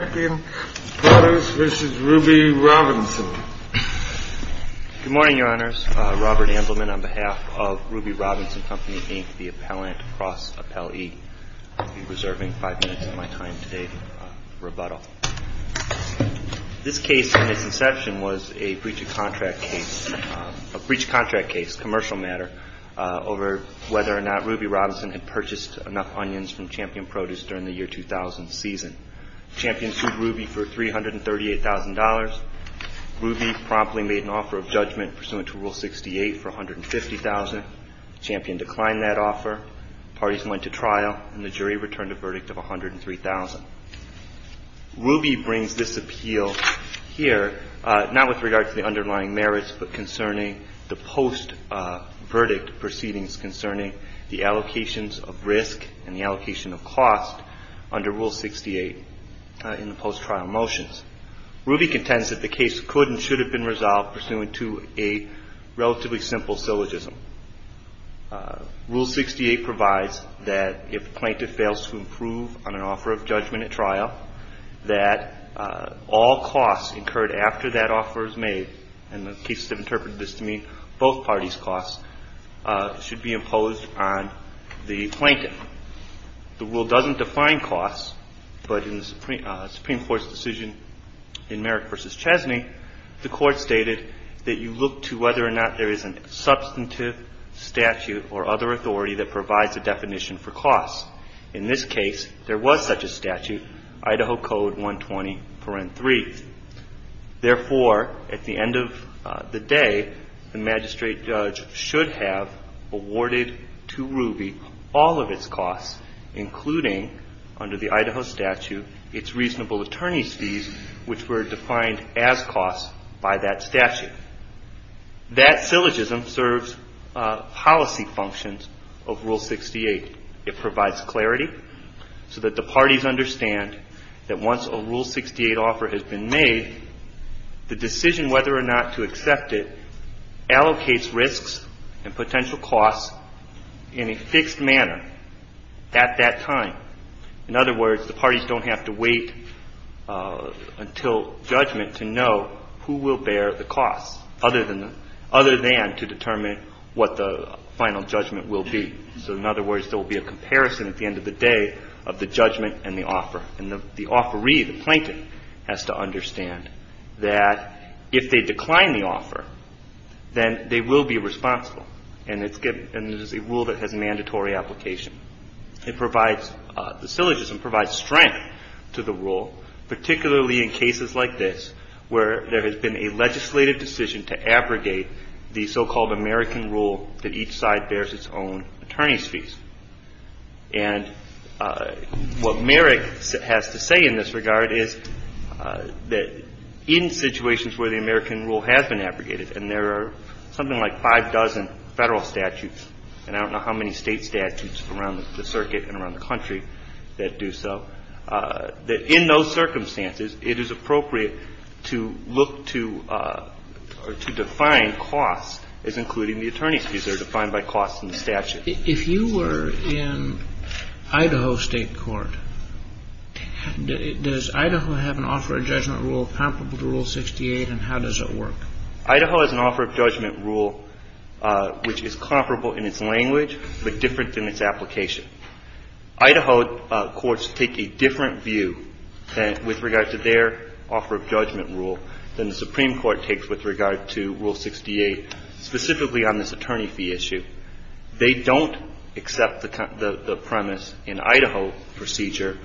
Champion Produce v. Ruby Robinson Good morning, Your Honors. Robert Andelman on behalf of Ruby Robinson Company, Inc., the appellant, cross-appellee. I'll be reserving five minutes of my time today for rebuttal. This case, in its inception, was a breach of contract case, a breach of contract case, commercial matter, over whether or not Ruby Robinson had purchased enough onions from Champion Produce during the year 2000 season. Champion sued Ruby for $338,000. Ruby promptly made an offer of judgment pursuant to Rule 68 for $150,000. Champion declined that offer. Parties went to trial, and the jury returned a verdict of $103,000. Ruby brings this appeal here not with regard to the underlying merits, but concerning the post-verdict proceedings concerning the allocations of risk and the allocation of cost under Rule 68 in the post-trial motions. Ruby contends that the case could and should have been resolved pursuant to a relatively simple syllogism. Rule 68 provides that if a plaintiff fails to improve on an offer of judgment at trial, that all costs incurred after that offer is made, and the cases have interpreted this to mean both parties' costs, should be imposed on the plaintiff. The Rule doesn't define costs, but in the Supreme Court's decision in Merrick v. Chesney, the Court stated that you look to whether or not there is a substantive statute or other authority that provides a definition for costs. In this case, there was such a statute, Idaho Code 120.3. Therefore, at the end of the day, the magistrate judge should have awarded to Ruby all of its costs, including under the Idaho statute its reasonable attorney's fees, which were defined as costs by that statute. That syllogism serves policy functions of Rule 68. It provides clarity so that the parties understand that once a Rule 68 offer has been made, the decision whether or not to accept it allocates risks and potential costs in a fixed manner at that time. In other words, the parties don't have to wait until judgment to know who will bear the costs, other than to determine what the final judgment will be. So in other words, there will be a comparison at the end of the day of the judgment and the offer. And the offeree, the plaintiff, has to understand that if they decline the offer, then they will be responsible. And it's a Rule that has mandatory application. It provides, the syllogism provides strength to the Rule, particularly in cases like this where there has been a legislative decision to abrogate the so-called American Rule that each side bears its own attorney's fees. And what Merrick has to say in this regard is that in situations where the American Rule has been abrogated, and there are something like five dozen Federal statutes, and I don't know how many State statutes around the circuit and around the country that do so, that in those circumstances, it is appropriate to look to or to define costs as including the attorney's fees. They're defined by costs in the statute. Kennedy. If you were in Idaho State court, does Idaho have an offer of judgment Rule comparable to Rule 68, and how does it work? Idaho has an offer of judgment Rule which is comparable in its language but different than its application. Idaho courts take a different view with regard to their offer of judgment Rule than the Supreme Court takes with regard to Rule 68, specifically on this attorney fee issue. They don't accept the premise in Idaho procedure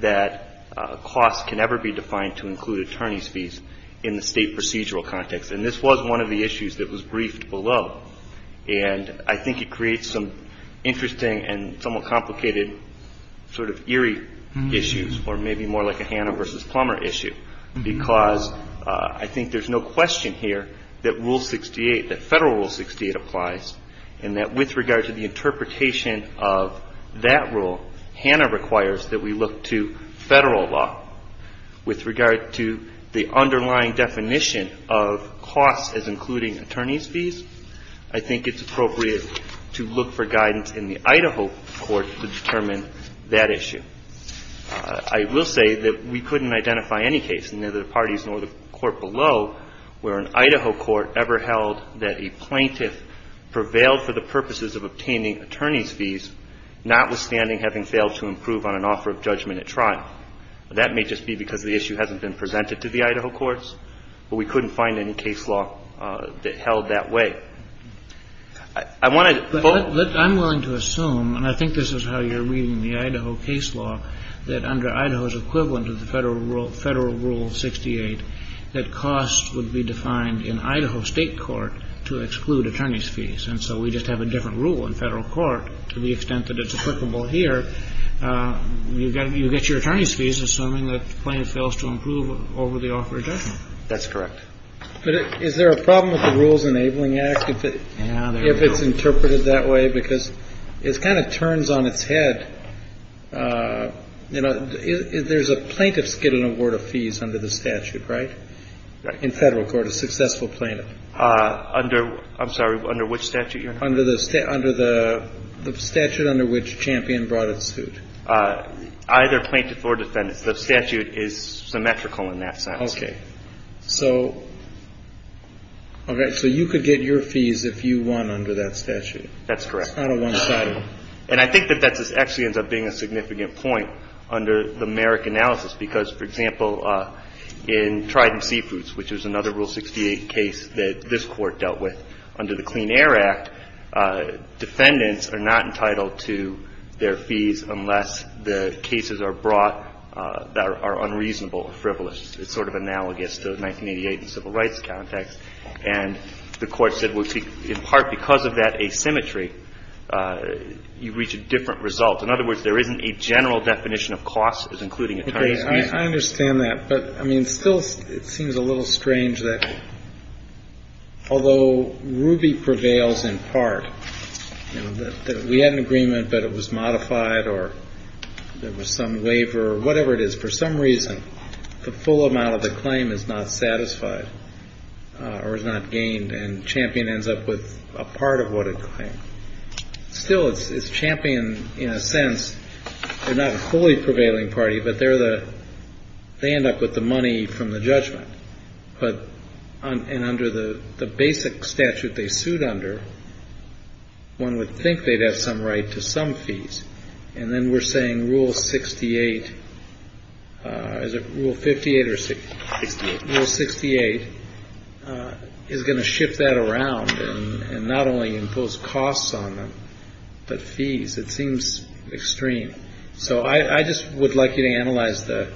that costs can never be defined to include attorney's fees in the State procedural context. And this was one of the issues that was briefed below. And I think it creates some interesting and somewhat complicated sort of eerie issues, or maybe more like a Hannah versus Plummer issue, because I think there's no question here that Federal Rule 68 applies, and that with regard to the interpretation of that rule, Hannah requires that we look to Federal law with regard to the underlying definition of costs as including attorney's fees. I think it's appropriate to look for guidance in the Idaho court to determine that issue. I will say that we couldn't identify any case, neither the parties nor the court below, where an Idaho court ever held that a plaintiff prevailed for the purposes of obtaining attorney's fees, notwithstanding having failed to improve on an offer of judgment at trial. That may just be because the issue hasn't been presented to the Idaho courts, but we couldn't find any case law that held that way. I want to follow up. I'm willing to assume, and I think this is how you're reading the Idaho case law, that under Idaho's equivalent of the Federal Rule 68, that costs would be defined in Idaho State court to exclude attorney's fees. And so we just have a different rule in Federal court to the extent that it's applicable here. But you get your attorney's fees assuming that the plaintiff fails to improve over the offer of judgment. That's correct. But is there a problem with the Rules Enabling Act if it's interpreted that way? Because it kind of turns on its head. You know, there's a plaintiff's get an award of fees under the statute, right? In Federal court, a successful plaintiff. Under, I'm sorry, under which statute, Your Honor? Under the statute under which Champion brought its suit. Either plaintiff or defendant. The statute is symmetrical in that sense. Okay. So you could get your fees if you won under that statute. That's correct. It's not a one-sided. And I think that that actually ends up being a significant point under the Merrick analysis, because, for example, in Trident Seafoods, which was another Rule 68 case that this Court dealt with under the Clean Air Act, defendants are not entitled to their fees unless the cases are brought that are unreasonable or frivolous. It's sort of analogous to 1988 in the civil rights context. And the Court said, well, in part because of that asymmetry, you reach a different result. In other words, there isn't a general definition of costs as including attorney's I understand that. But, I mean, still it seems a little strange that although Ruby prevails in part, you know, that we had an agreement, but it was modified or there was some waiver or whatever it is, for some reason, the full amount of the claim is not satisfied or is not gained, and Champion ends up with a part of what it claimed. Still, it's Champion in a sense. They're not a fully prevailing party, but they end up with the money from the judgment. And under the basic statute they sued under, one would think they'd have some right to some fees. And then we're saying Rule 68, is it Rule 58 or 68? Rule 68 is going to shift that around and not only impose costs on them, but fees. It seems extreme. So I just would like you to analyze the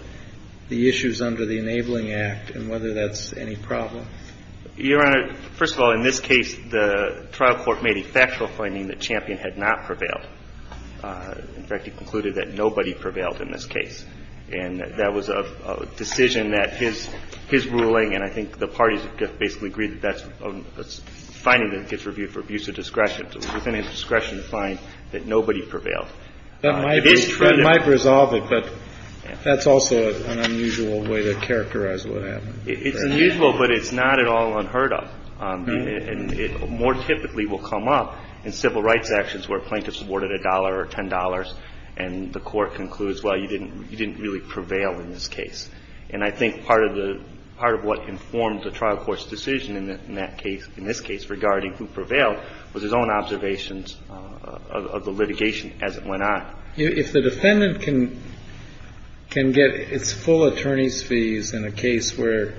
issues under the Enabling Act and whether that's any problem. Your Honor, first of all, in this case, the trial court made a factual claiming that Champion had not prevailed. In fact, it concluded that nobody prevailed in this case. And that was a decision that his ruling, and I think the parties basically agreed that that's a finding that gets reviewed for abuse of discretion. Within his discretion to find that nobody prevailed. It is true. That might resolve it, but that's also an unusual way to characterize what happened. It's unusual, but it's not at all unheard of. And it more typically will come up in civil rights actions where a plaintiff's awarded a dollar or $10, and the court concludes, well, you didn't really prevail in this case. And I think part of what informed the trial court's decision in that case, in this case, regarding who prevailed, was his own observations of the litigation as it went on. If the defendant can get its full attorney's fees in a case where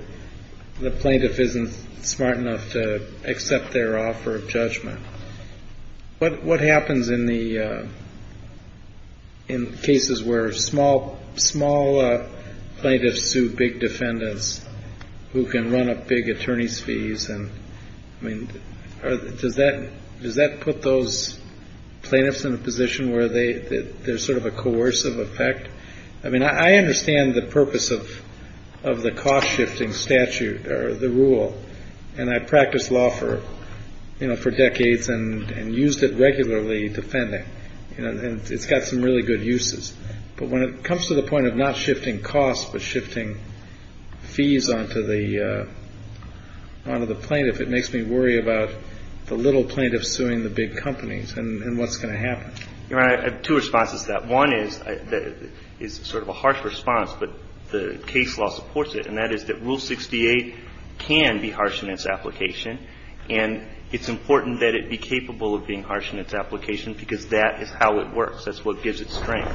the plaintiff isn't smart enough to accept their offer of judgment, what happens in the cases where small plaintiffs sue big defendants who can run up big attorney's fees and I mean, does that put those plaintiffs in a position where there's sort of a coercive effect? I mean, I understand the purpose of the cost-shifting statute or the rule, and I practiced law for decades and used it regularly defending. It's got some really good uses, but when it comes to the point of not shifting costs but shifting fees onto the plaintiff, it makes me worry about the little plaintiff suing the big companies and what's going to happen. Your Honor, I have two responses to that. One is sort of a harsh response, but the case law supports it, and that is that Rule 68 can be harsh in its application, and it's important that it be capable of being harsh in its application because that is how it works. That's what gives it strength.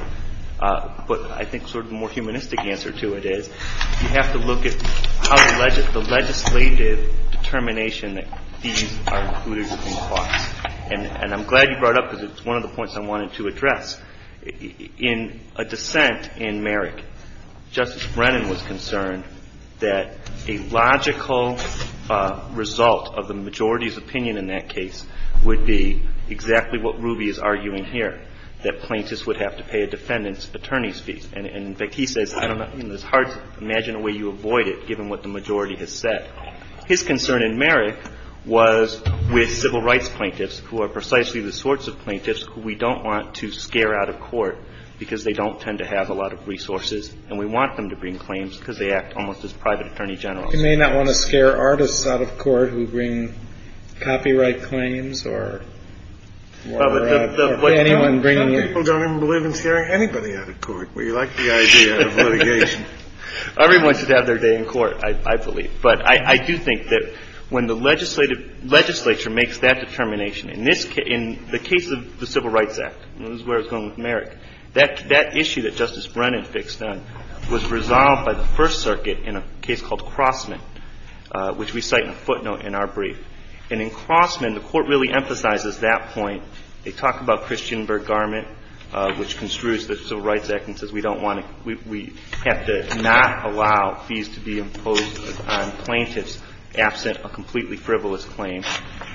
But I think sort of the more humanistic answer to it is you have to look at how the legislative determination that fees are included in costs, and I'm glad you brought up because it's one of the points I wanted to address. In a dissent in Merrick, Justice Brennan was concerned that a logical result of the majority's opinion in that case would be exactly what Ruby is arguing here, that plaintiffs would have to pay a defendant's attorney's fees. In fact, he says it's hard to imagine a way you avoid it given what the majority has said. His concern in Merrick was with civil rights plaintiffs who are precisely the sorts of plaintiffs who we don't want to scare out of court because they don't tend to have a lot of resources, and we want them to bring claims because they act almost as private attorney generals. You may not want to scare artists out of court who bring copyright claims or anyone bringing in — Some people don't even believe in scaring anybody out of court. We like the idea of litigation. Everyone should have their day in court, I believe. But I do think that when the legislative — legislature makes that determination in this — in the case of the Civil Rights Act, and this is where I was going with Merrick, that issue that Justice Brennan fixed on was resolved by the First Circuit in a case called Crossman, which we cite in a footnote in our brief. And in Crossman, the Court really emphasizes that point. They talk about Christian Bergarment, which construes the Civil Rights Act and says we don't want to — we have to not allow fees to be imposed on plaintiffs absent a completely frivolous claim.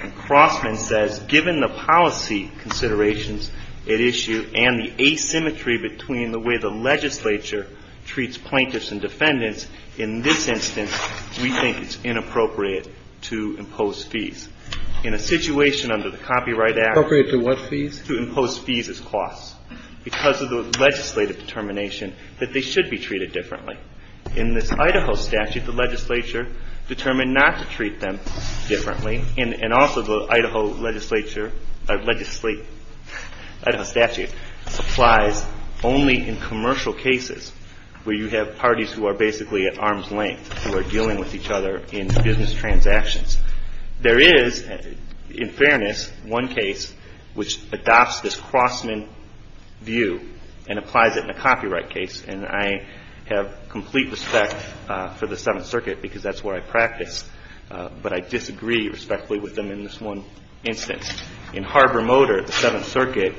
And Crossman says, given the policy considerations at issue and the asymmetry between the way the legislature treats plaintiffs and defendants, in this instance we think it's inappropriate to impose fees. In a situation under the Copyright Act — Inappropriate to what fees? To impose fees as costs because of the legislative determination that they should be treated differently. In this Idaho statute, the legislature determined not to treat them differently. And also the Idaho legislature — legislate — Idaho statute applies only in commercial cases where you have parties who are basically at arm's length, who are dealing with each other in business transactions. There is, in fairness, one case which adopts this Crossman view and applies it in a copyright case. And I have complete respect for the Seventh Circuit because that's where I practice, but I disagree respectfully with them in this one instance. In Harbor Motor, the Seventh Circuit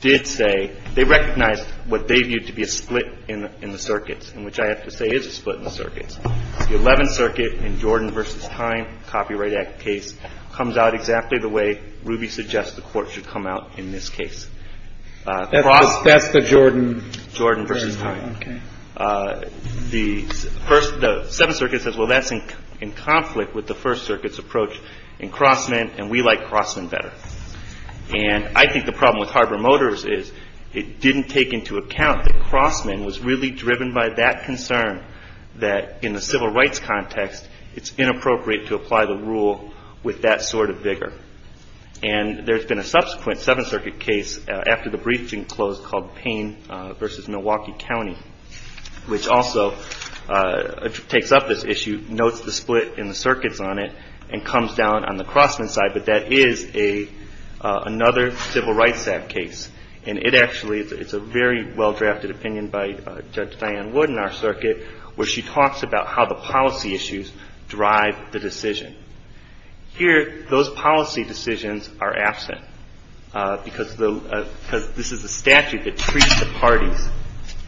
did say — they recognized what they viewed to be a split in the circuits, and which I have to say is a split in the circuits. The Eleventh Circuit in Jordan v. Time, Copyright Act case, comes out exactly the way Ruby suggests the Court should come out in this case. That's the Jordan — Jordan v. Time. Okay. The First — the Seventh Circuit says, well, that's in conflict with the First Circuit's approach in Crossman, and we like Crossman better. And I think the problem with Harbor Motors is it didn't take into account that in a civil rights context, it's inappropriate to apply the rule with that sort of vigor. And there's been a subsequent Seventh Circuit case after the briefing closed called Payne v. Milwaukee County, which also takes up this issue, notes the split in the circuits on it, and comes down on the Crossman side, but that is another civil rights act case. And it actually — it's a very well-drafted opinion by Judge Diane Wood in our case on how the policy issues drive the decision. Here, those policy decisions are absent because the — because this is a statute that treats the parties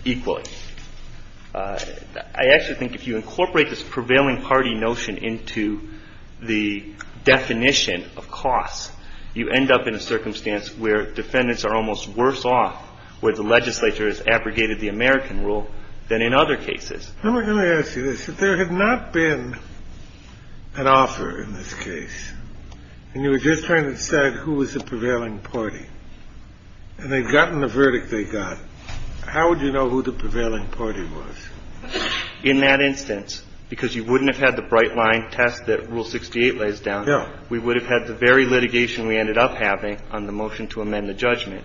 equally. I actually think if you incorporate this prevailing party notion into the definition of costs, you end up in a circumstance where defendants are almost worse off, where the legislature has abrogated the American rule, than in other cases. I'm going to ask you this. If there had not been an offer in this case, and you were just trying to decide who was the prevailing party, and they'd gotten the verdict they got, how would you know who the prevailing party was? In that instance, because you wouldn't have had the bright-line test that Rule 68 lays down, we would have had the very litigation we ended up having on the motion to amend the judgment.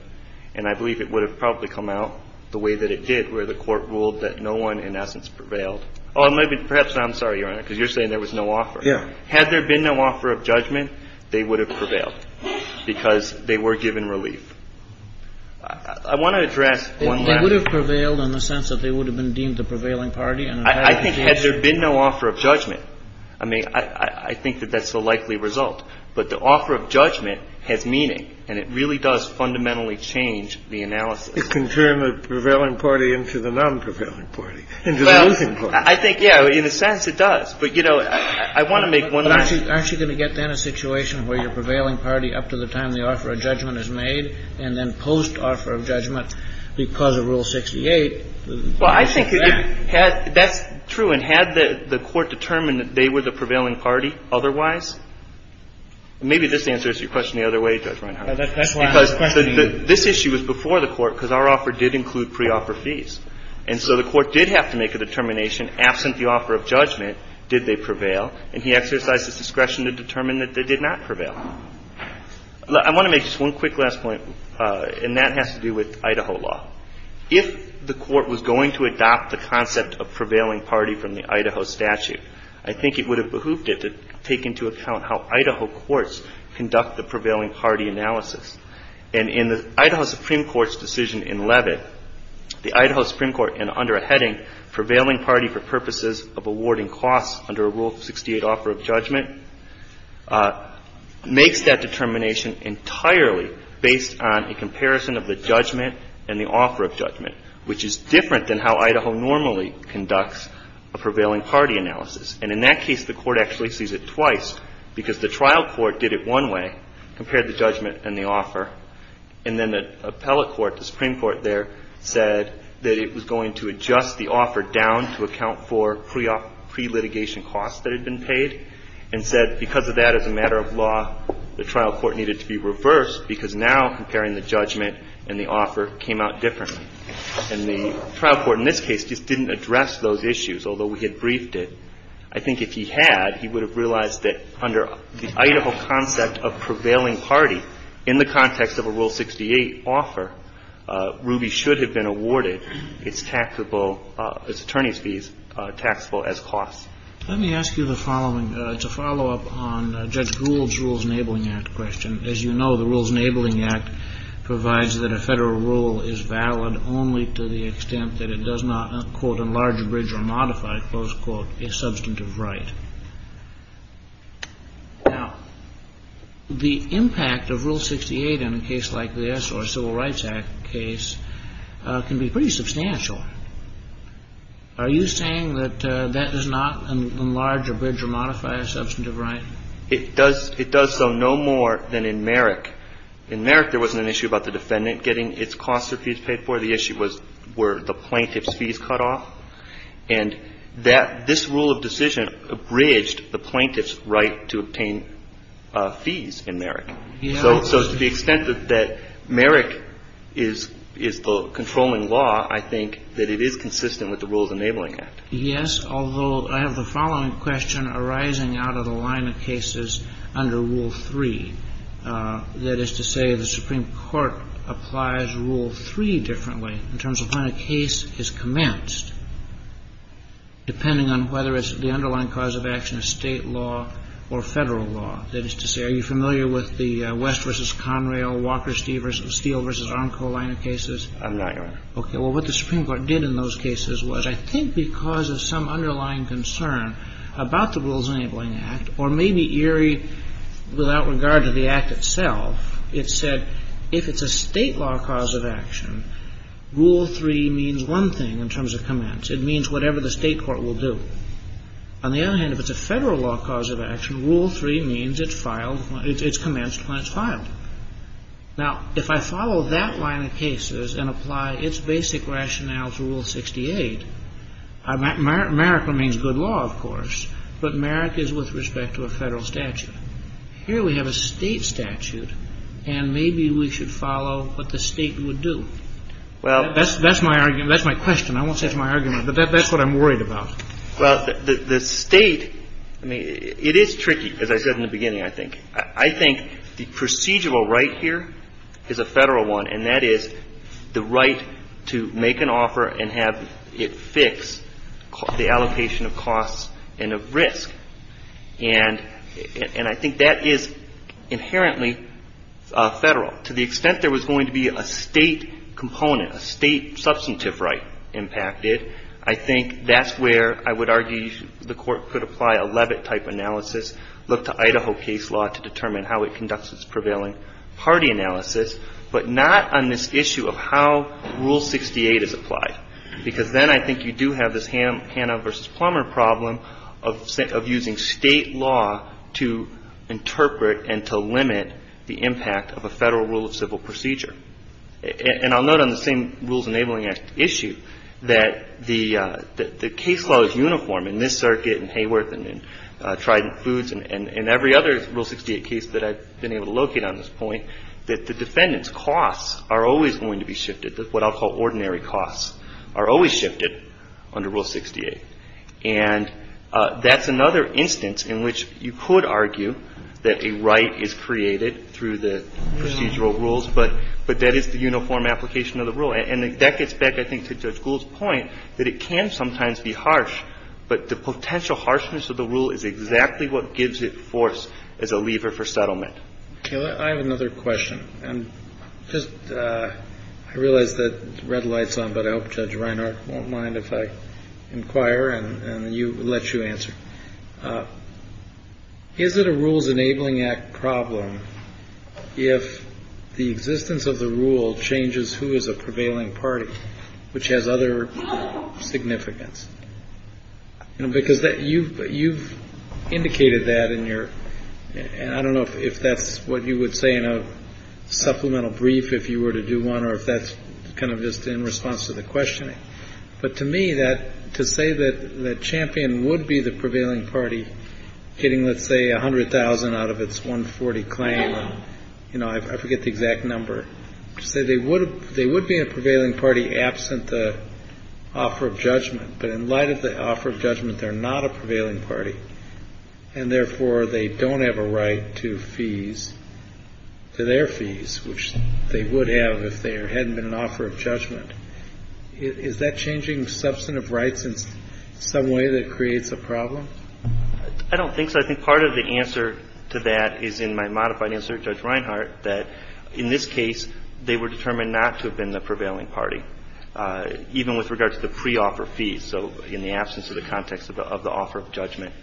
And I believe it would have probably come out the way that it did, where the Court ruled that no one, in essence, prevailed. Or maybe — perhaps I'm sorry, Your Honor, because you're saying there was no offer. Yeah. Had there been no offer of judgment, they would have prevailed because they were given relief. I want to address one last — They would have prevailed in the sense that they would have been deemed the prevailing party, and in fact — I think had there been no offer of judgment — I mean, I think that that's the likely result. But the offer of judgment has meaning, and it really does fundamentally change the analysis. It can turn the prevailing party into the non-prevailing party, into the losing party. Well, I think, yeah, in a sense it does. But, you know, I want to make one last — But aren't you going to get, then, a situation where your prevailing party, up to the time the offer of judgment is made, and then post-offer of judgment, because of Rule 68 — Well, I think it had — that's true. And had the Court determined that they were the prevailing party otherwise — maybe this answers your question the other way, Judge Reinhart. That's why I'm questioning you. This issue was before the Court, because our offer did include pre-offer fees. And so the Court did have to make a determination, absent the offer of judgment, did they prevail? And he exercised his discretion to determine that they did not prevail. I want to make just one quick last point, and that has to do with Idaho law. If the Court was going to adopt the concept of prevailing party from the Idaho statute, I think it would have behooped it to take into account how Idaho courts conduct the prevailing party analysis. And in the Idaho Supreme Court's decision in Levitt, the Idaho Supreme Court, under a heading, prevailing party for purposes of awarding costs under a Rule 68 offer of judgment, makes that determination entirely based on a comparison of the judgment and the offer of judgment, which is different than how Idaho normally conducts a prevailing party analysis. And in that case, the Court actually sees it twice, because the trial court did it one way, compared the judgment and the offer, and then the appellate court, the Supreme Court there, said that it was going to adjust the offer down to account for pre-litigation costs that had been paid, and said because of that, as a matter of law, the trial court needed to be reversed, because now comparing the judgment and the offer came out differently. And the trial court in this case just didn't address those issues, although we had briefed it. I think if he had, he would have realized that under the Idaho concept of prevailing party, in the context of a Rule 68 offer, Ruby should have been awarded its taxable – its attorney's fees taxable as costs. Let me ask you the following. It's a follow-up on Judge Gould's Rules Enabling Act question. As you know, the Rules Enabling Act provides that a Federal rule is valid only to the substantive right. Now, the impact of Rule 68 in a case like this, or a Civil Rights Act case, can be pretty substantial. Are you saying that that does not enlarge or bridge or modify a substantive right? It does so no more than in Merrick. In Merrick, there wasn't an issue about the defendant getting its costs or fees paid for. The issue was were the plaintiff's fees cut off. And this rule of decision abridged the plaintiff's right to obtain fees in Merrick. So to the extent that Merrick is the controlling law, I think that it is consistent with the Rules Enabling Act. Yes, although I have the following question arising out of the line of cases under Rule 3. That is to say, the Supreme Court applies Rule 3 differently in terms of when a case is commenced, depending on whether it's the underlying cause of action of State law or Federal law. That is to say, are you familiar with the West v. Conrail, Walker Steel v. Arnco line of cases? I'm not, Your Honor. Okay. Well, what the Supreme Court did in those cases was, I think because of some underlying concern about the Rules Enabling Act, or maybe, Erie, without regard to the Act itself, it said if it's a State law cause of action, Rule 3 means one thing in terms of commence. It means whatever the State court will do. On the other hand, if it's a Federal law cause of action, Rule 3 means it's commenced when it's filed. Now, if I follow that line of cases and apply its basic rationale to Rule 68, Merrick remains good law, of course, but Merrick is with respect to a Federal statute. Here we have a State statute, and maybe we should follow what the State would do. That's my argument. That's my question. I won't say it's my argument, but that's what I'm worried about. Well, the State, I mean, it is tricky, as I said in the beginning, I think. I think the procedural right here is a Federal one, and that is the right to make an offer and have it fix the allocation of costs and of risk. And I think that is inherently Federal. To the extent there was going to be a State component, a State substantive right impacted, I think that's where I would argue the court could apply a Leavitt-type analysis, look to Idaho case law to determine how it conducts its prevailing party analysis, but not on this issue of how Rule 68 is applied, because then I think you do have this Hannah v. Plummer problem of using State law to interpret and to limit the impact of a Federal rule of civil procedure. And I'll note on the same Rules Enabling Act issue that the case law is uniform in this circuit and Hayworth and Trident Foods and every other Rule 68 case that I've been able to locate on this point, that the defendant's costs are always going to be shifted, what I'll call ordinary costs, are always shifted under Rule 68. And that's another instance in which you could argue that a right is created through the procedural rules, but that is the uniform application of the rule. And that gets back, I think, to Judge Gould's point that it can sometimes be harsh, but the potential harshness of the rule is exactly what gives it force as a lever for settlement. Kennedy. I have another question. And just, I realize the red light's on, but I hope Judge Reinhart won't mind if I inquire and let you answer. Is it a Rules Enabling Act problem if the existence of the rule changes who is a prevailing party, which has other significance? Because you've indicated that in your, and I don't know if that's what you would say in a supplemental brief if you were to do one or if that's kind of just in response to the questioning. But to me, to say that the champion would be the prevailing party getting, let's say, $100,000 out of its 140 claim, I forget the exact number, to say they would be a prevailing party absent the offer of judgment. But in light of the offer of judgment, they're not a prevailing party, and therefore they don't have a right to fees, to their fees, which they would have if there hadn't been an offer of judgment. Is that changing substantive rights in some way that creates a problem? I don't think so. I think part of the answer to that is in my modified answer to Judge Reinhart that, in this case, they were determined not to have been the prevailing party, even with regard to the pre-offer fees, so in the absence of the context of the offer of judgment.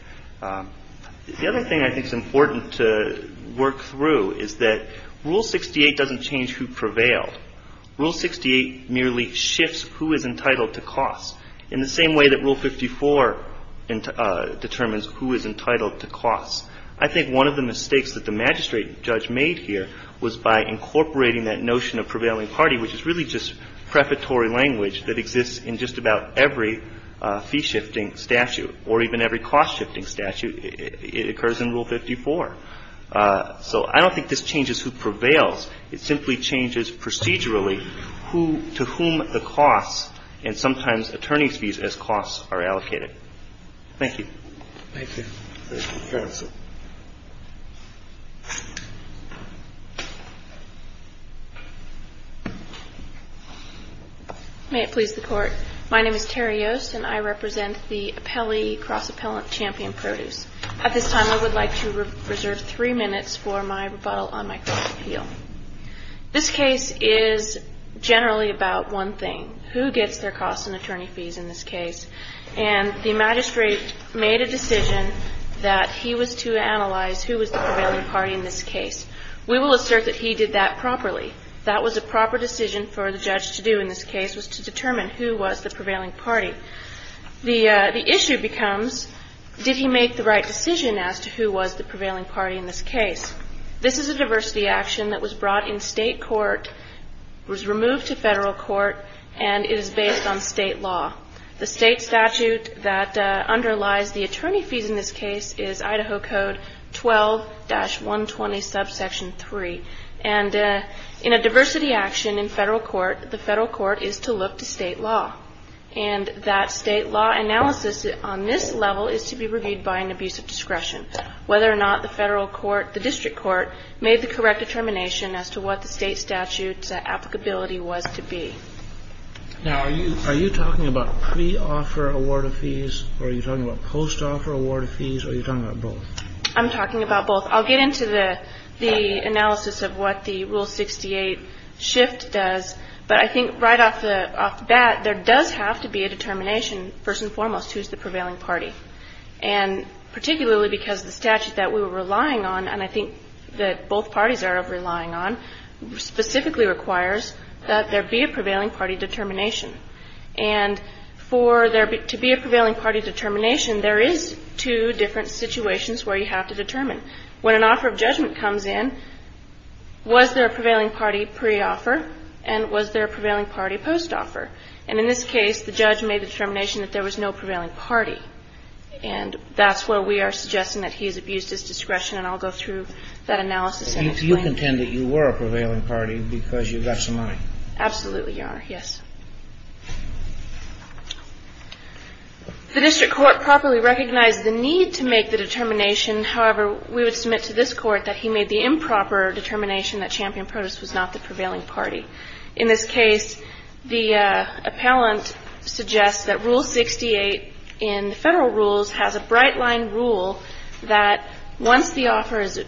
The other thing I think is important to work through is that Rule 68 doesn't change who prevailed. Rule 68 merely shifts who is entitled to costs, in the same way that Rule 54 determines who is entitled to costs. I think one of the mistakes that the magistrate judge made here was by incorporating that notion of prevailing party, which is really just prefatory language that exists in just about every fee-shifting statute, or even every cost-shifting statute. It occurs in Rule 54. So I don't think this changes who prevails. It simply changes procedurally who to whom the costs, and sometimes attorney's fees as costs, are allocated. Thank you. Thank you. Thank you, counsel. May it please the Court. My name is Terry Yost, and I represent the appellee cross-appellant champion produce. At this time I would like to reserve three minutes for my rebuttal on my cross-appeal. This case is generally about one thing. Who gets their costs and attorney fees in this case? And the magistrate made a decision that he was to analyze who was the prevailing party in this case. We will assert that he did that properly. That was a proper decision for the judge to do in this case, was to determine who was the prevailing party. The issue becomes, did he make the right decision as to who was the prevailing party in this case? This is a diversity action that was brought in state court, was removed to federal court, and is based on state law. The state statute that underlies the attorney fees in this case is Idaho Code 12-120 subsection 3. And in a diversity action in federal court, the federal court is to look to state law. And that state law analysis on this level is to be reviewed by an abuse of discretion. Whether or not the federal court, the district court, made the correct determination as to what the state statute's applicability was to be. Now, are you talking about pre-offer award of fees, or are you talking about post-offer award of fees, or are you talking about both? I'm talking about both. I'll get into the analysis of what the Rule 68 shift does. But I think right off the bat, there does have to be a determination, first and foremost, who's the prevailing party. And particularly because the statute that we were relying on, and I think that both parties are relying on, specifically requires that there be a prevailing party determination. And for there to be a prevailing party determination, there is two different situations where you have to determine. When an offer of judgment comes in, was there a prevailing party pre-offer and was there a prevailing party post-offer? And that's where we are suggesting that he's abused his discretion. And I'll go through that analysis and explain. But you contend that you were a prevailing party because you got some money. Absolutely, Your Honor, yes. The district court properly recognized the need to make the determination. However, we would submit to this Court that he made the improper determination that Champion Protest was not the prevailing party. In this case, the appellant suggests that Rule 68 in the Federal Rules has a bright line rule that once the offer is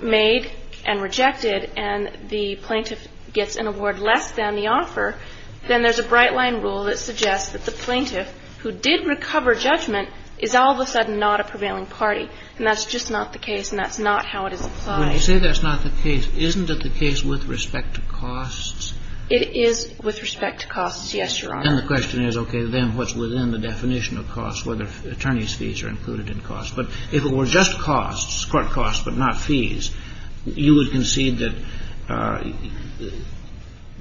made and rejected and the plaintiff gets an award less than the offer, then there's a bright line rule that suggests that the plaintiff who did recover judgment is all of a sudden not a prevailing party. And that's just not the case, and that's not how it is applied. When you say that's not the case, isn't it the case with respect to costs? It is with respect to costs, yes, Your Honor. Then the question is, okay, then what's within the definition of costs, whether attorney's fees are included in costs? But if it were just costs, court costs but not fees, you would concede that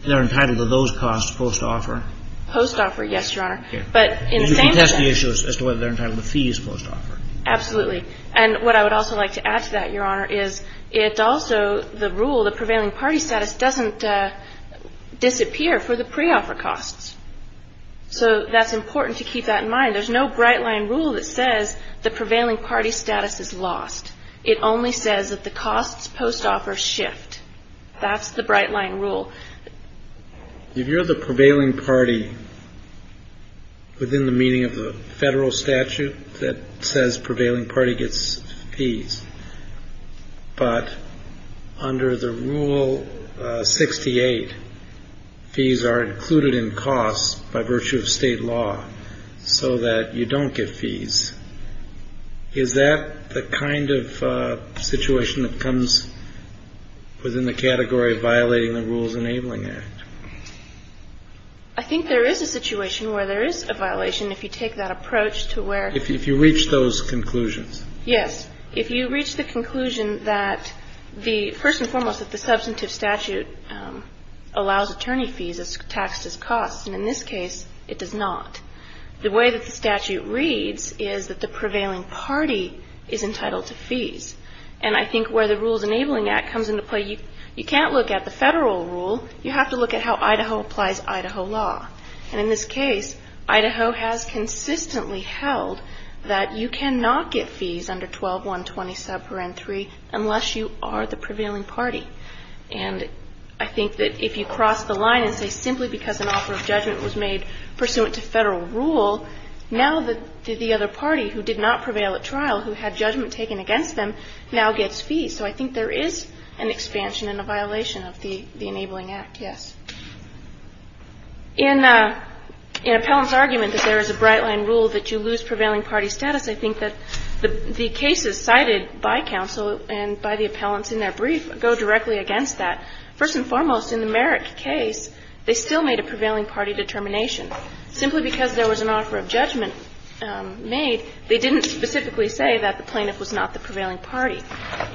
they're entitled to those costs post-offer? Post-offer, yes, Your Honor. Okay. But in the same sense — You can test the issue as to whether they're entitled to fees post-offer. Absolutely. And what I would also like to add to that, Your Honor, is it's also the rule, the prevailing party status doesn't disappear for the pre-offer costs. So that's important to keep that in mind. There's no bright line rule that says the prevailing party status is lost. It only says that the costs post-offer shift. That's the bright line rule. Did you hear the prevailing party within the meaning of the Federal statute that says prevailing party gets fees, but under the Rule 68, fees are included in costs by virtue of state law so that you don't get fees? Is that the kind of situation that comes within the category of violating the Rules Enabling Act? I think there is a situation where there is a violation if you take that approach to where — If you reach those conclusions. Yes. If you reach the conclusion that the — first and foremost, that the substantive statute allows attorney fees as taxed as costs. And in this case, it does not. The way that the statute reads is that the prevailing party is entitled to fees. And I think where the Rules Enabling Act comes into play, you can't look at the Federal rule. You have to look at how Idaho applies Idaho law. And in this case, Idaho has consistently held that you cannot get fees under 12-120 subparent 3 unless you are the prevailing party. And I think that if you cross the line and say simply because an offer of judgment was made pursuant to Federal rule, now the other party who did not prevail at trial who had judgment taken against them now gets fees. So I think there is an expansion and a violation of the Enabling Act, yes. In an appellant's argument that there is a bright-line rule that you lose prevailing party status, I think that the cases cited by counsel and by the appellants in their brief go directly against that. First and foremost, in the Merrick case, they still made a prevailing party determination. Simply because there was an offer of judgment made, they didn't specifically say that the plaintiff was not the prevailing party.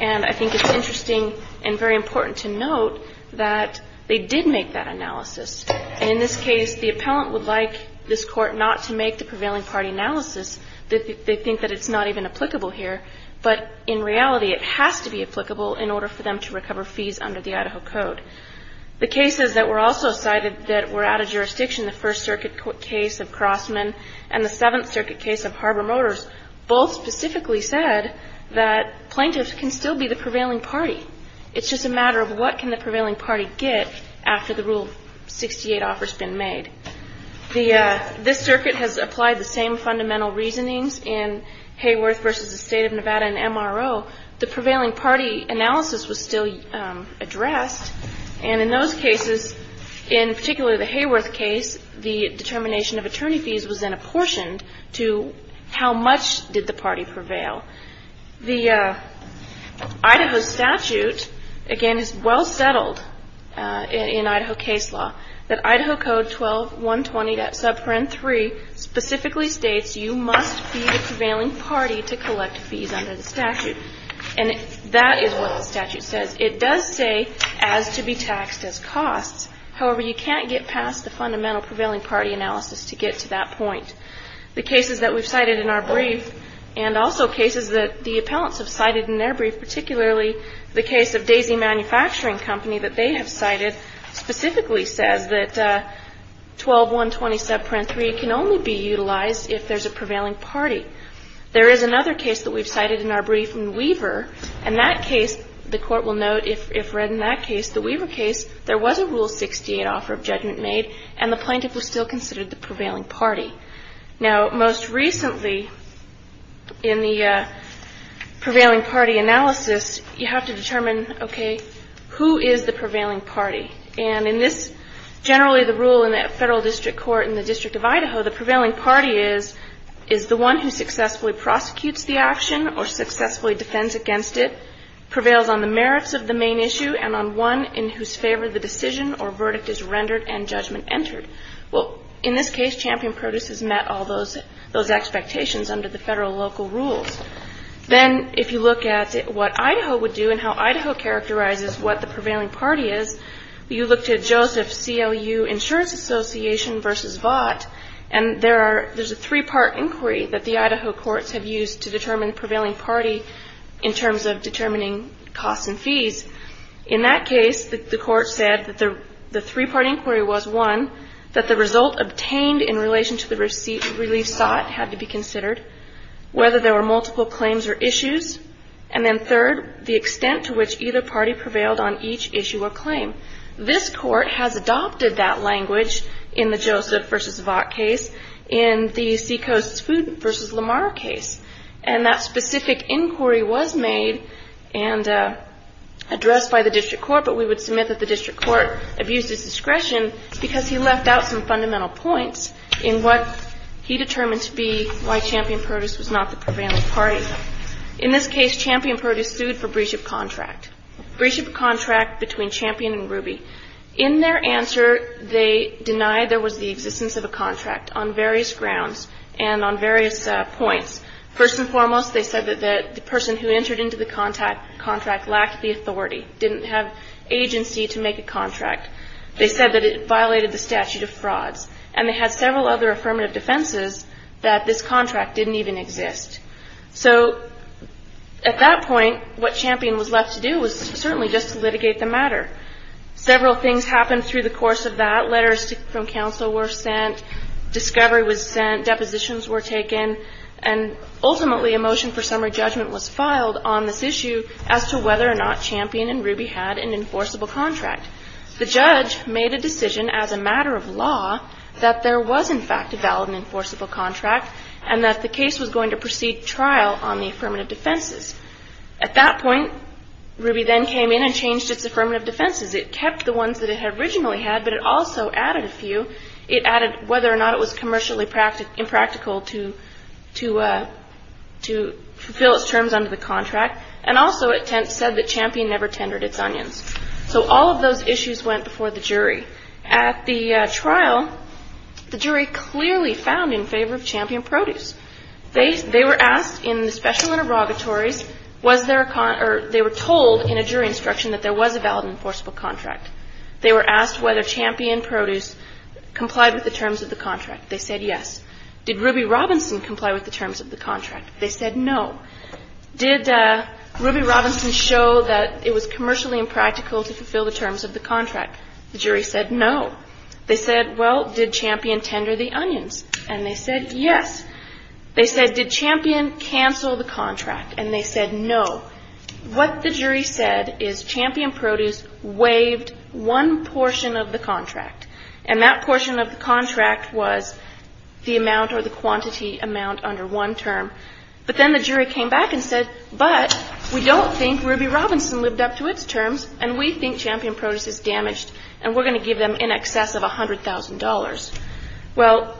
And I think it's interesting and very important to note that they did make that analysis. And in this case, the appellant would like this court not to make the prevailing party analysis. They think that it's not even applicable here. But in reality, it has to be applicable in order for them to recover fees under the Idaho Code. The cases that were also cited that were out of jurisdiction, the First Circuit case of Crossman and the Seventh Circuit case of Harbor Motors, both specifically said that plaintiffs can still be the prevailing party. It's just a matter of what can the prevailing party get after the Rule 68 offer's been made. The – this circuit has applied the same fundamental reasonings in Hayworth v. The State of Nevada and MRO. The prevailing party analysis was still addressed. And in those cases, in particularly the Hayworth case, the determination of attorney fees was then apportioned to how much did the party prevail. The Idaho statute, again, is well settled in Idaho case law. The Idaho Code 12120.3 specifically states you must be the prevailing party to collect fees under the statute. And that is what the statute says. It does say as to be taxed as costs. However, you can't get past the fundamental prevailing party analysis to get to that point. The cases that we've cited in our brief, and also cases that the appellants have cited in their brief, particularly the case of Daisy Manufacturing Company that they have cited, specifically says that 12120.3 can only be utilized if there's a prevailing party. There is another case that we've cited in our brief in Weaver. In that case, the Court will note if read in that case, the Weaver case, there was a Rule 68 offer of judgment made, and the plaintiff was still considered the prevailing party. Now, most recently, in the prevailing party analysis, you have to determine, okay, who is the prevailing party? And in this, generally the rule in the Federal District Court in the District of Idaho, the prevailing party is the one who successfully prosecutes the action or successfully defends against it, prevails on the merits of the main issue, and on one in whose favor the decision or verdict is rendered and judgment entered. Well, in this case, Champion Produce has met all those expectations under the federal local rules. Then if you look at what Idaho would do and how Idaho characterizes what the prevailing party is, you look to Joseph CLU Insurance Association versus Vought, and there's a three-part inquiry that the Idaho courts have used to determine In that case, the court said that the three-part inquiry was, one, that the result obtained in relation to the receipt of relief sought had to be considered, whether there were multiple claims or issues, and then third, the extent to which either party prevailed on each issue or claim. This court has adopted that language in the Joseph versus Vought case, in the Seacoast Food versus Lamar case. And that specific inquiry was made and addressed by the district court, but we would submit that the district court abused its discretion because he left out some fundamental points in what he determined to be why Champion Produce was not the prevailing party. In this case, Champion Produce sued for breach of contract, breach of contract between Champion and Ruby. In their answer, they denied there was the existence of a contract on various grounds and on various points. First and foremost, they said that the person who entered into the contract lacked the authority, didn't have agency to make a contract. They said that it violated the statute of frauds, and they had several other affirmative defenses that this contract didn't even exist. So at that point, what Champion was left to do was certainly just to litigate the matter. Several things happened through the course of that. Letters from counsel were sent, discovery was sent, depositions were taken, and ultimately a motion for summary judgment was filed on this issue as to whether or not Champion and Ruby had an enforceable contract. The judge made a decision as a matter of law that there was in fact a valid and enforceable contract and that the case was going to proceed trial on the affirmative defenses. At that point, Ruby then came in and changed its affirmative defenses. It kept the ones that it originally had, but it also added a few. It added whether or not it was commercially impractical to fulfill its terms under the contract, and also it said that Champion never tendered its onions. So all of those issues went before the jury. At the trial, the jury clearly found in favor of Champion Produce. They were asked in the special interrogatories, was there a con or they were told in a jury instruction that there was a valid and enforceable contract. They were asked whether Champion Produce complied with the terms of the contract. They said yes. Did Ruby Robinson comply with the terms of the contract? They said no. Did Ruby Robinson show that it was commercially impractical to fulfill the terms of the contract? The jury said no. They said, well, did Champion tender the onions? And they said yes. They said, did Champion cancel the contract? And they said no. So what the jury said is Champion Produce waived one portion of the contract, and that portion of the contract was the amount or the quantity amount under one term. But then the jury came back and said, but we don't think Ruby Robinson lived up to its terms, and we think Champion Produce is damaged, and we're going to give them in excess of $100,000. Well,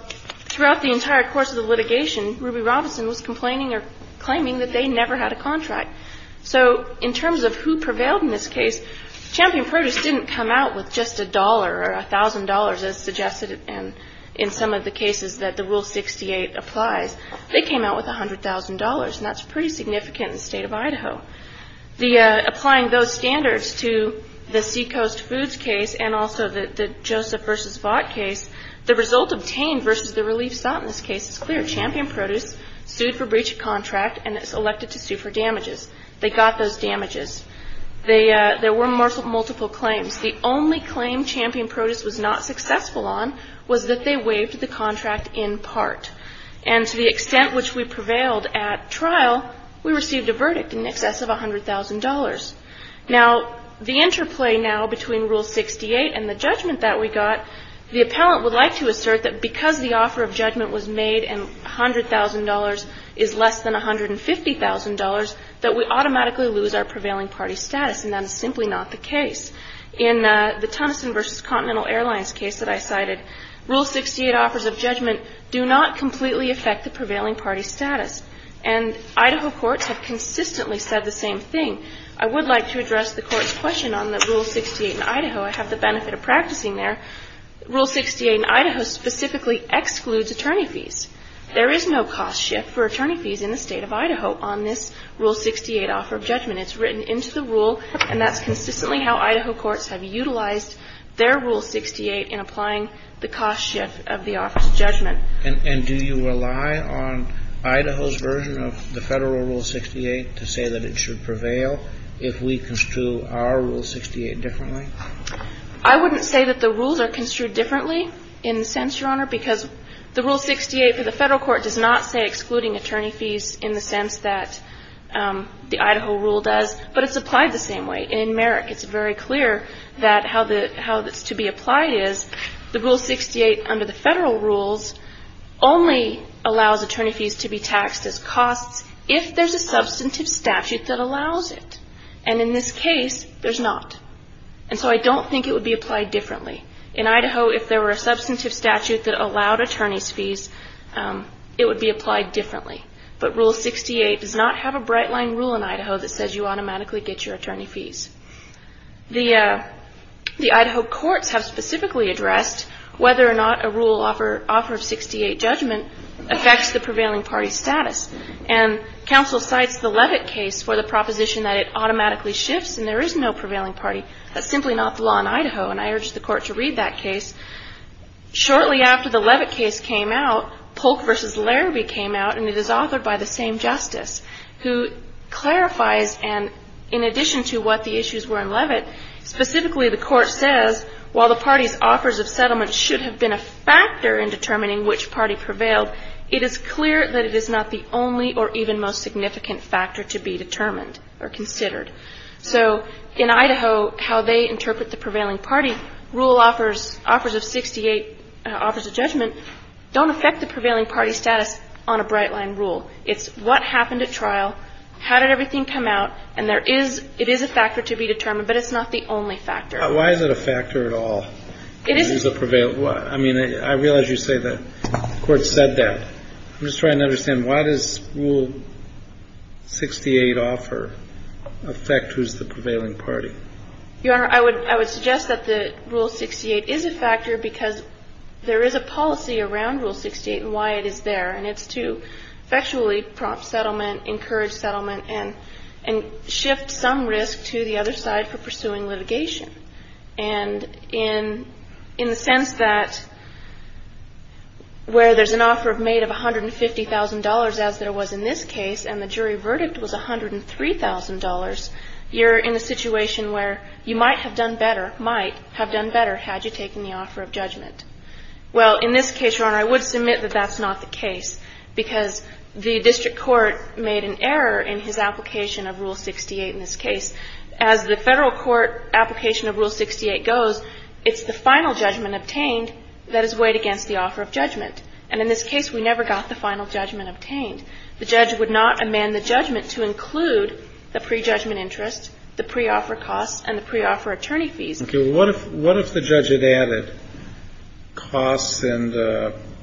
throughout the entire course of the litigation, Ruby Robinson was complaining or claiming that they never had a contract. So in terms of who prevailed in this case, Champion Produce didn't come out with just $1 or $1,000, as suggested in some of the cases that the Rule 68 applies. They came out with $100,000, and that's pretty significant in the state of Idaho. Applying those standards to the Seacoast Foods case and also the Joseph v. Vought case, the result obtained versus the relief sought in this case is clear. Champion Produce sued for breach of contract and is elected to sue for damages. They got those damages. There were multiple claims. The only claim Champion Produce was not successful on was that they waived the contract in part, and to the extent which we prevailed at trial, we received a verdict in excess of $100,000. Now, the interplay now between Rule 68 and the judgment that we got, the appellant would like to assert that because the offer of judgment was made and $100,000 is less than $150,000, that we automatically lose our prevailing party status, and that is simply not the case. In the Tunnison v. Continental Airlines case that I cited, Rule 68 offers of judgment do not completely affect the prevailing party status, and Idaho courts have consistently said the same thing. I would like to address the Court's question on that Rule 68 in Idaho. I have the benefit of practicing there. Rule 68 in Idaho specifically excludes attorney fees. There is no cost shift for attorney fees in the State of Idaho on this Rule 68 offer of judgment. It's written into the rule, and that's consistently how Idaho courts have utilized their Rule 68 in applying the cost shift of the offer of judgment. And do you rely on Idaho's version of the Federal Rule 68 to say that it should prevail if we construe our Rule 68 differently? I wouldn't say that the rules are construed differently in the sense, Your Honor, because the Rule 68 for the Federal Court does not say excluding attorney fees in the sense that the Idaho rule does, but it's applied the same way. In Merrick, it's very clear that how the – how it's to be applied is the Rule 68 under the Federal rules only allows attorney fees to be taxed as costs if there's a substantive statute that allows it. And in this case, there's not. And so I don't think it would be applied differently. In Idaho, if there were a substantive statute that allowed attorney's fees, it would be applied differently. But Rule 68 does not have a bright-line rule in Idaho that says you automatically get your attorney fees. The Idaho courts have specifically addressed whether or not a rule offer of 68 judgment affects the prevailing party's status. And counsel cites the Levitt case for the proposition that it automatically shifts, and there is no prevailing party. That's simply not the law in Idaho. And I urge the Court to read that case. Shortly after the Levitt case came out, Polk v. Larrabee came out, and it is authored by the same justice, who clarifies, and in addition to what the issues were in Levitt, specifically the Court says, while the party's offers of settlement should have been a factor in determining which party prevailed, it is clear that it is not the only or even most significant factor to be determined or considered. So in Idaho, how they interpret the prevailing party rule offers of 68 offers of judgment don't affect the prevailing party's status on a bright-line rule. It's what happened at trial, how did everything come out, and there is – it is a factor to be determined, but it's not the only factor. But why is it a factor at all? I mean, I realize you say the Court said that. I'm just trying to understand. Why does Rule 68 offer affect who's the prevailing party? Your Honor, I would suggest that the Rule 68 is a factor because there is a policy around Rule 68 and why it is there. And it's to effectually prompt settlement, encourage settlement, and shift some risk to the other side for pursuing litigation. And in the sense that where there's an offer made of $150,000 as there was in this case and the jury verdict was $103,000, you're in a situation where you might have done better, might have done better had you taken the offer of judgment. Well, in this case, Your Honor, I would submit that that's not the case because the district court made an error in his application of Rule 68 in this case. As the Federal Court application of Rule 68 goes, it's the final judgment obtained that is weighed against the offer of judgment. And in this case, we never got the final judgment obtained. The judge would not amend the judgment to include the prejudgment interest, the pre-offer costs, and the pre-offer attorney fees. Okay. Well, what if the judge had added costs and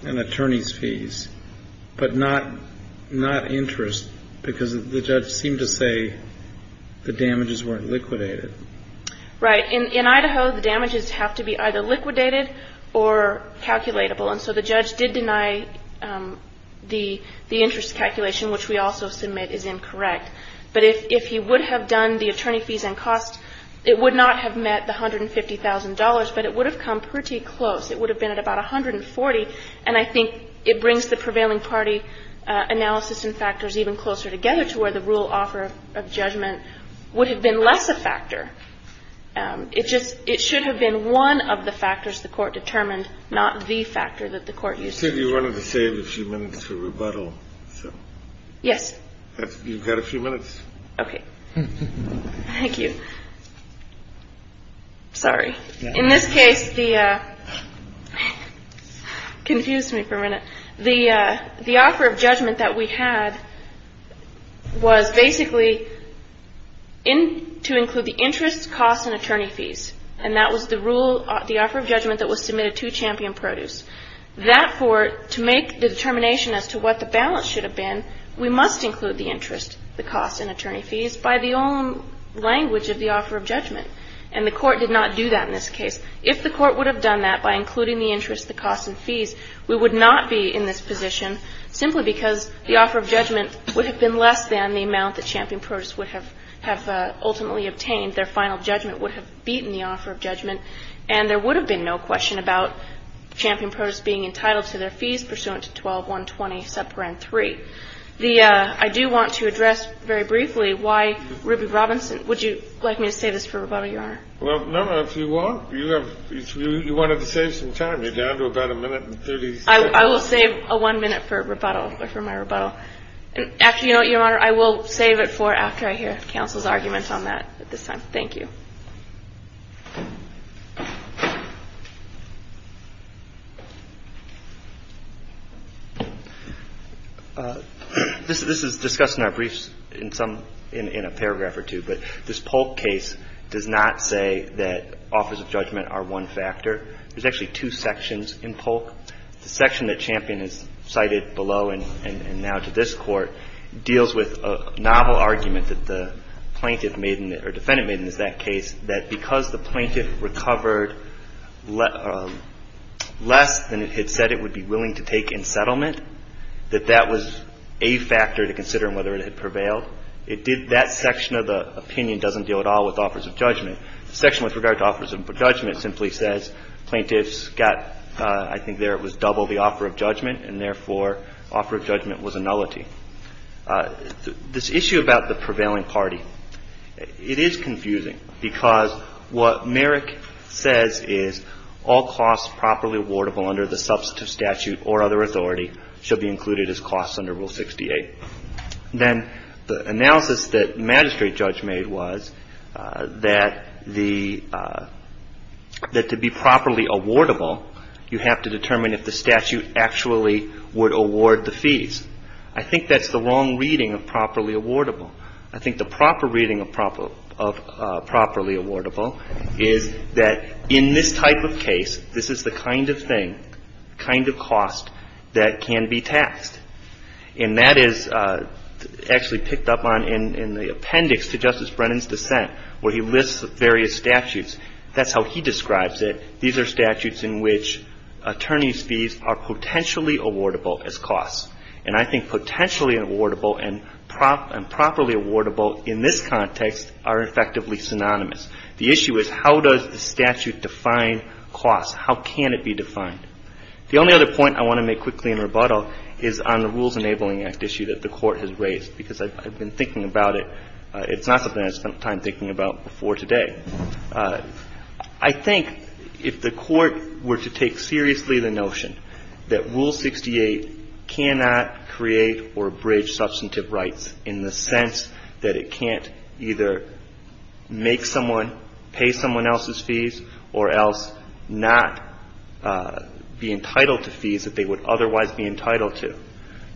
attorney's fees, but not interest because the judge seemed to say the damages weren't liquidated? Right. In Idaho, the damages have to be either liquidated or calculatable. And so the judge did deny the interest calculation, which we also submit is incorrect. But if he would have done the attorney fees and costs, it would not have met the $150,000, but it would have come pretty close. It would have been at about 140. And I think it brings the prevailing party analysis and factors even closer together to where the rule offer of judgment would have been less a factor. It just – it should have been one of the factors the Court determined, not the factor that the Court used. I think you wanted to save a few minutes for rebuttal. Yes. You've got a few minutes. Okay. Thank you. Sorry. In this case, the – confuse me for a minute. The offer of judgment that we had was basically to include the interest, costs, and attorney fees. And that was the rule – the offer of judgment that was submitted to Champion Produce. That for – to make the determination as to what the balance should have been, we must include the interest, the costs, and attorney fees by the own language of the offer of judgment. And the Court did not do that in this case. If the Court would have done that by including the interest, the costs, and fees, we would not be in this position simply because the offer of judgment would have been less than the amount that Champion Produce would have ultimately obtained. Their final judgment would have beaten the offer of judgment, and there would have been no question about Champion Produce being entitled to their fees pursuant to 12-120-3. The – I do want to address very briefly why Ruby Robinson – would you like me to save this for rebuttal, Your Honor? Well, no, if you want. You have – you wanted to save some time. You're down to about a minute and 30 seconds. I will save a one minute for rebuttal – for my rebuttal. And actually, you know what, Your Honor? I will save it for after I hear counsel's argument on that at this time. Thank you. This is discussed in our briefs in some – in a paragraph or two, but this Polk case does not say that offers of judgment are one factor. There's actually two sections in Polk. The section that Champion has cited below and now to this Court deals with a novel argument that the plaintiff made in – or defendant made in that case that because the plaintiff recovered less than it had said it would be willing to take in settlement, that that was a factor to consider in whether it had prevailed. It did – that section of the opinion doesn't deal at all with offers of judgment. The section with regard to offers of judgment simply says plaintiffs got – I think there it was double the offer of judgment, and therefore offer of judgment was a nullity. This issue about the prevailing party, it is confusing because what Merrick says is all costs properly awardable under the substantive statute or other authority should be included as costs under Rule 68. Then the analysis that magistrate judge made was that the – that to be properly awardable, you have to determine if the statute actually would award the fees. I think that's the wrong reading of properly awardable. I think the proper reading of properly awardable is that in this type of case, this is the kind of thing, kind of cost that can be taxed. And that is actually picked up on in the appendix to Justice Brennan's dissent where he lists the various statutes. That's how he describes it. These are statutes in which attorney's fees are potentially awardable as costs. And I think potentially awardable and properly awardable in this context are effectively synonymous. The issue is how does the statute define costs? How can it be defined? The only other point I want to make quickly in rebuttal is on the Rules Enabling Act issue that the Court has raised because I've been thinking about it. It's not something I spent time thinking about before today. I think if the Court were to take seriously the notion that Rule 68 cannot create or bridge substantive rights in the sense that it can't either make someone, pay someone else's fees, or else not be entitled to fees that they would otherwise be entitled to,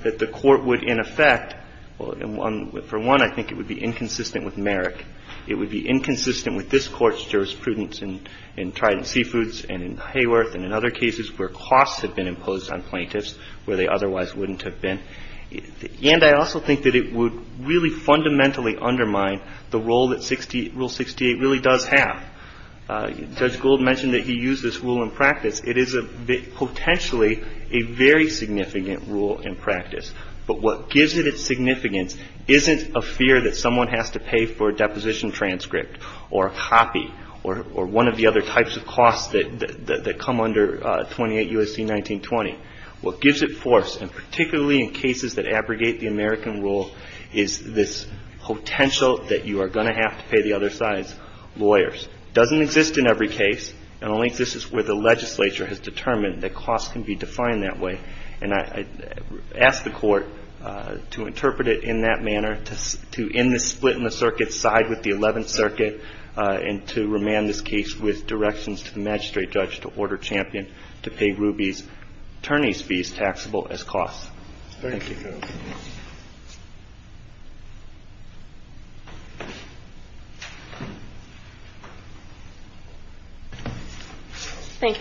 that the Court would in effect, for one, I think it would be inconsistent with Merrick. It would be inconsistent with this Court's jurisprudence in Trident Seafoods and in Hayworth and in other cases where costs have been imposed on plaintiffs where they otherwise wouldn't have been. And I also think that it would really fundamentally undermine the role that Rule 68 really does have. Judge Gould mentioned that he used this rule in practice. It is potentially a very significant rule in practice. But what gives it its significance isn't a fear that someone has to pay for a deposition transcript or a copy or one of the other types of costs that come under 28 U.S.C. 1920. What gives it force, and particularly in cases that abrogate the American rule, is this potential that you are going to have to pay the other side's lawyers. It doesn't exist in every case, and only exists where the legislature has determined that costs can be defined that way. And I ask the Court to interpret it in that manner, to end this split in the circuit, side with the Eleventh Circuit, and to remand this case with directions to the magistrate judge to order Champion to pay Ruby's attorney's fees taxable as costs. Thank you, Your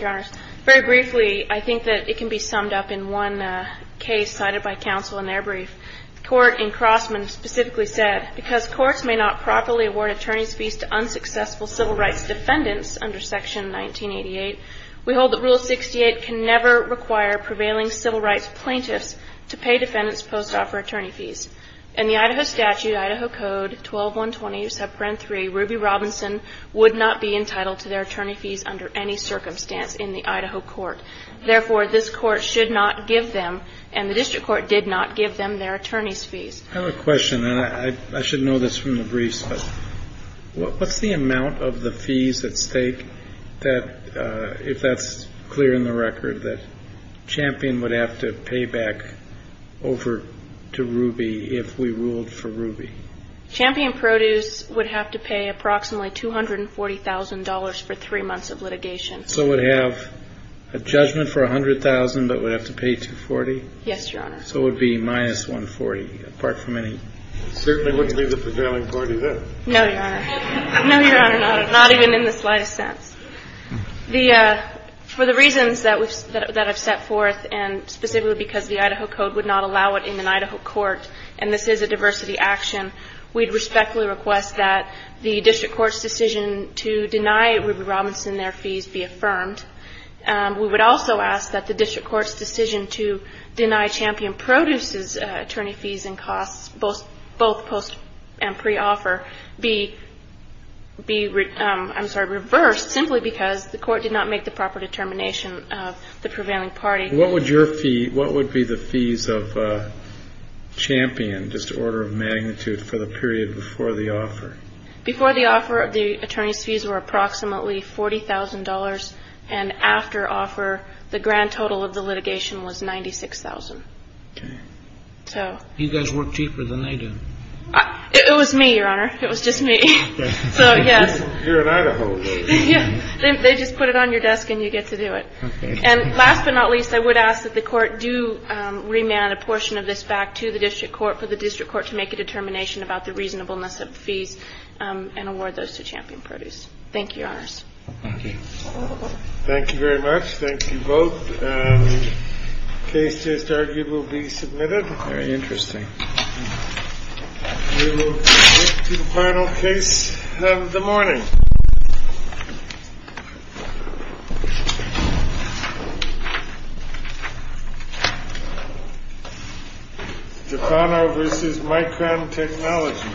Honor. Very briefly, I think that it can be summed up in one case cited by counsel in their brief. The Court in Crossman specifically said, Because courts may not properly award attorney's fees to unsuccessful civil rights defendants under Section 1988, we hold that Rule 68 can never require prevailing civil rights plaintiffs to pay defendants' post-offer attorney fees. In the Idaho statute, Idaho Code 12-120, Subgrant 3, Ruby Robinson would not be entitled to their attorney fees under any circumstance in the Idaho court. Therefore, this court should not give them, and the district court did not give them, their attorney's fees. I have a question. And I should know this from the briefs, but what's the amount of the fees at stake that, if that's clear in the record, that Champion would have to pay back over to Ruby if we ruled for Ruby? Champion Produce would have to pay approximately $240,000 for three months of litigation. So it would have a judgment for $100,000, but would have to pay $240,000? Yes, Your Honor. So it would be minus $140,000, apart from any? It certainly wouldn't be the prevailing $140,000. No, Your Honor. No, Your Honor. Not even in the slightest sense. For the reasons that I've set forth, and specifically because the Idaho Code would not allow it in an Idaho court, and this is a diversity action, we'd respectfully request that the district court's decision to deny Ruby Robinson their fees be affirmed. We would also ask that the district court's decision to deny Champion Produce's attorney fees and costs, both post and pre-offer, be reversed, simply because the court did not make the proper determination of the prevailing party. What would be the fees of Champion, just order of magnitude, for the period before the offer? Before the offer, the attorney's fees were approximately $40,000, and after offer, the grand total of the litigation was $96,000. Okay. You guys work cheaper than they do. It was me, Your Honor. It was just me. So, yes. You're an Idaho lady. They just put it on your desk and you get to do it. Okay. And last but not least, I would ask that the court do remand a portion of this back to the district court for the district court to make a determination about the reasonableness of the fees and award those to Champion Produce. Thank you, Your Honors. Thank you. Thank you very much. Thank you both. The case just argued will be submitted. Very interesting. We will get to the final case in the morning. Japano v. Micron Technology.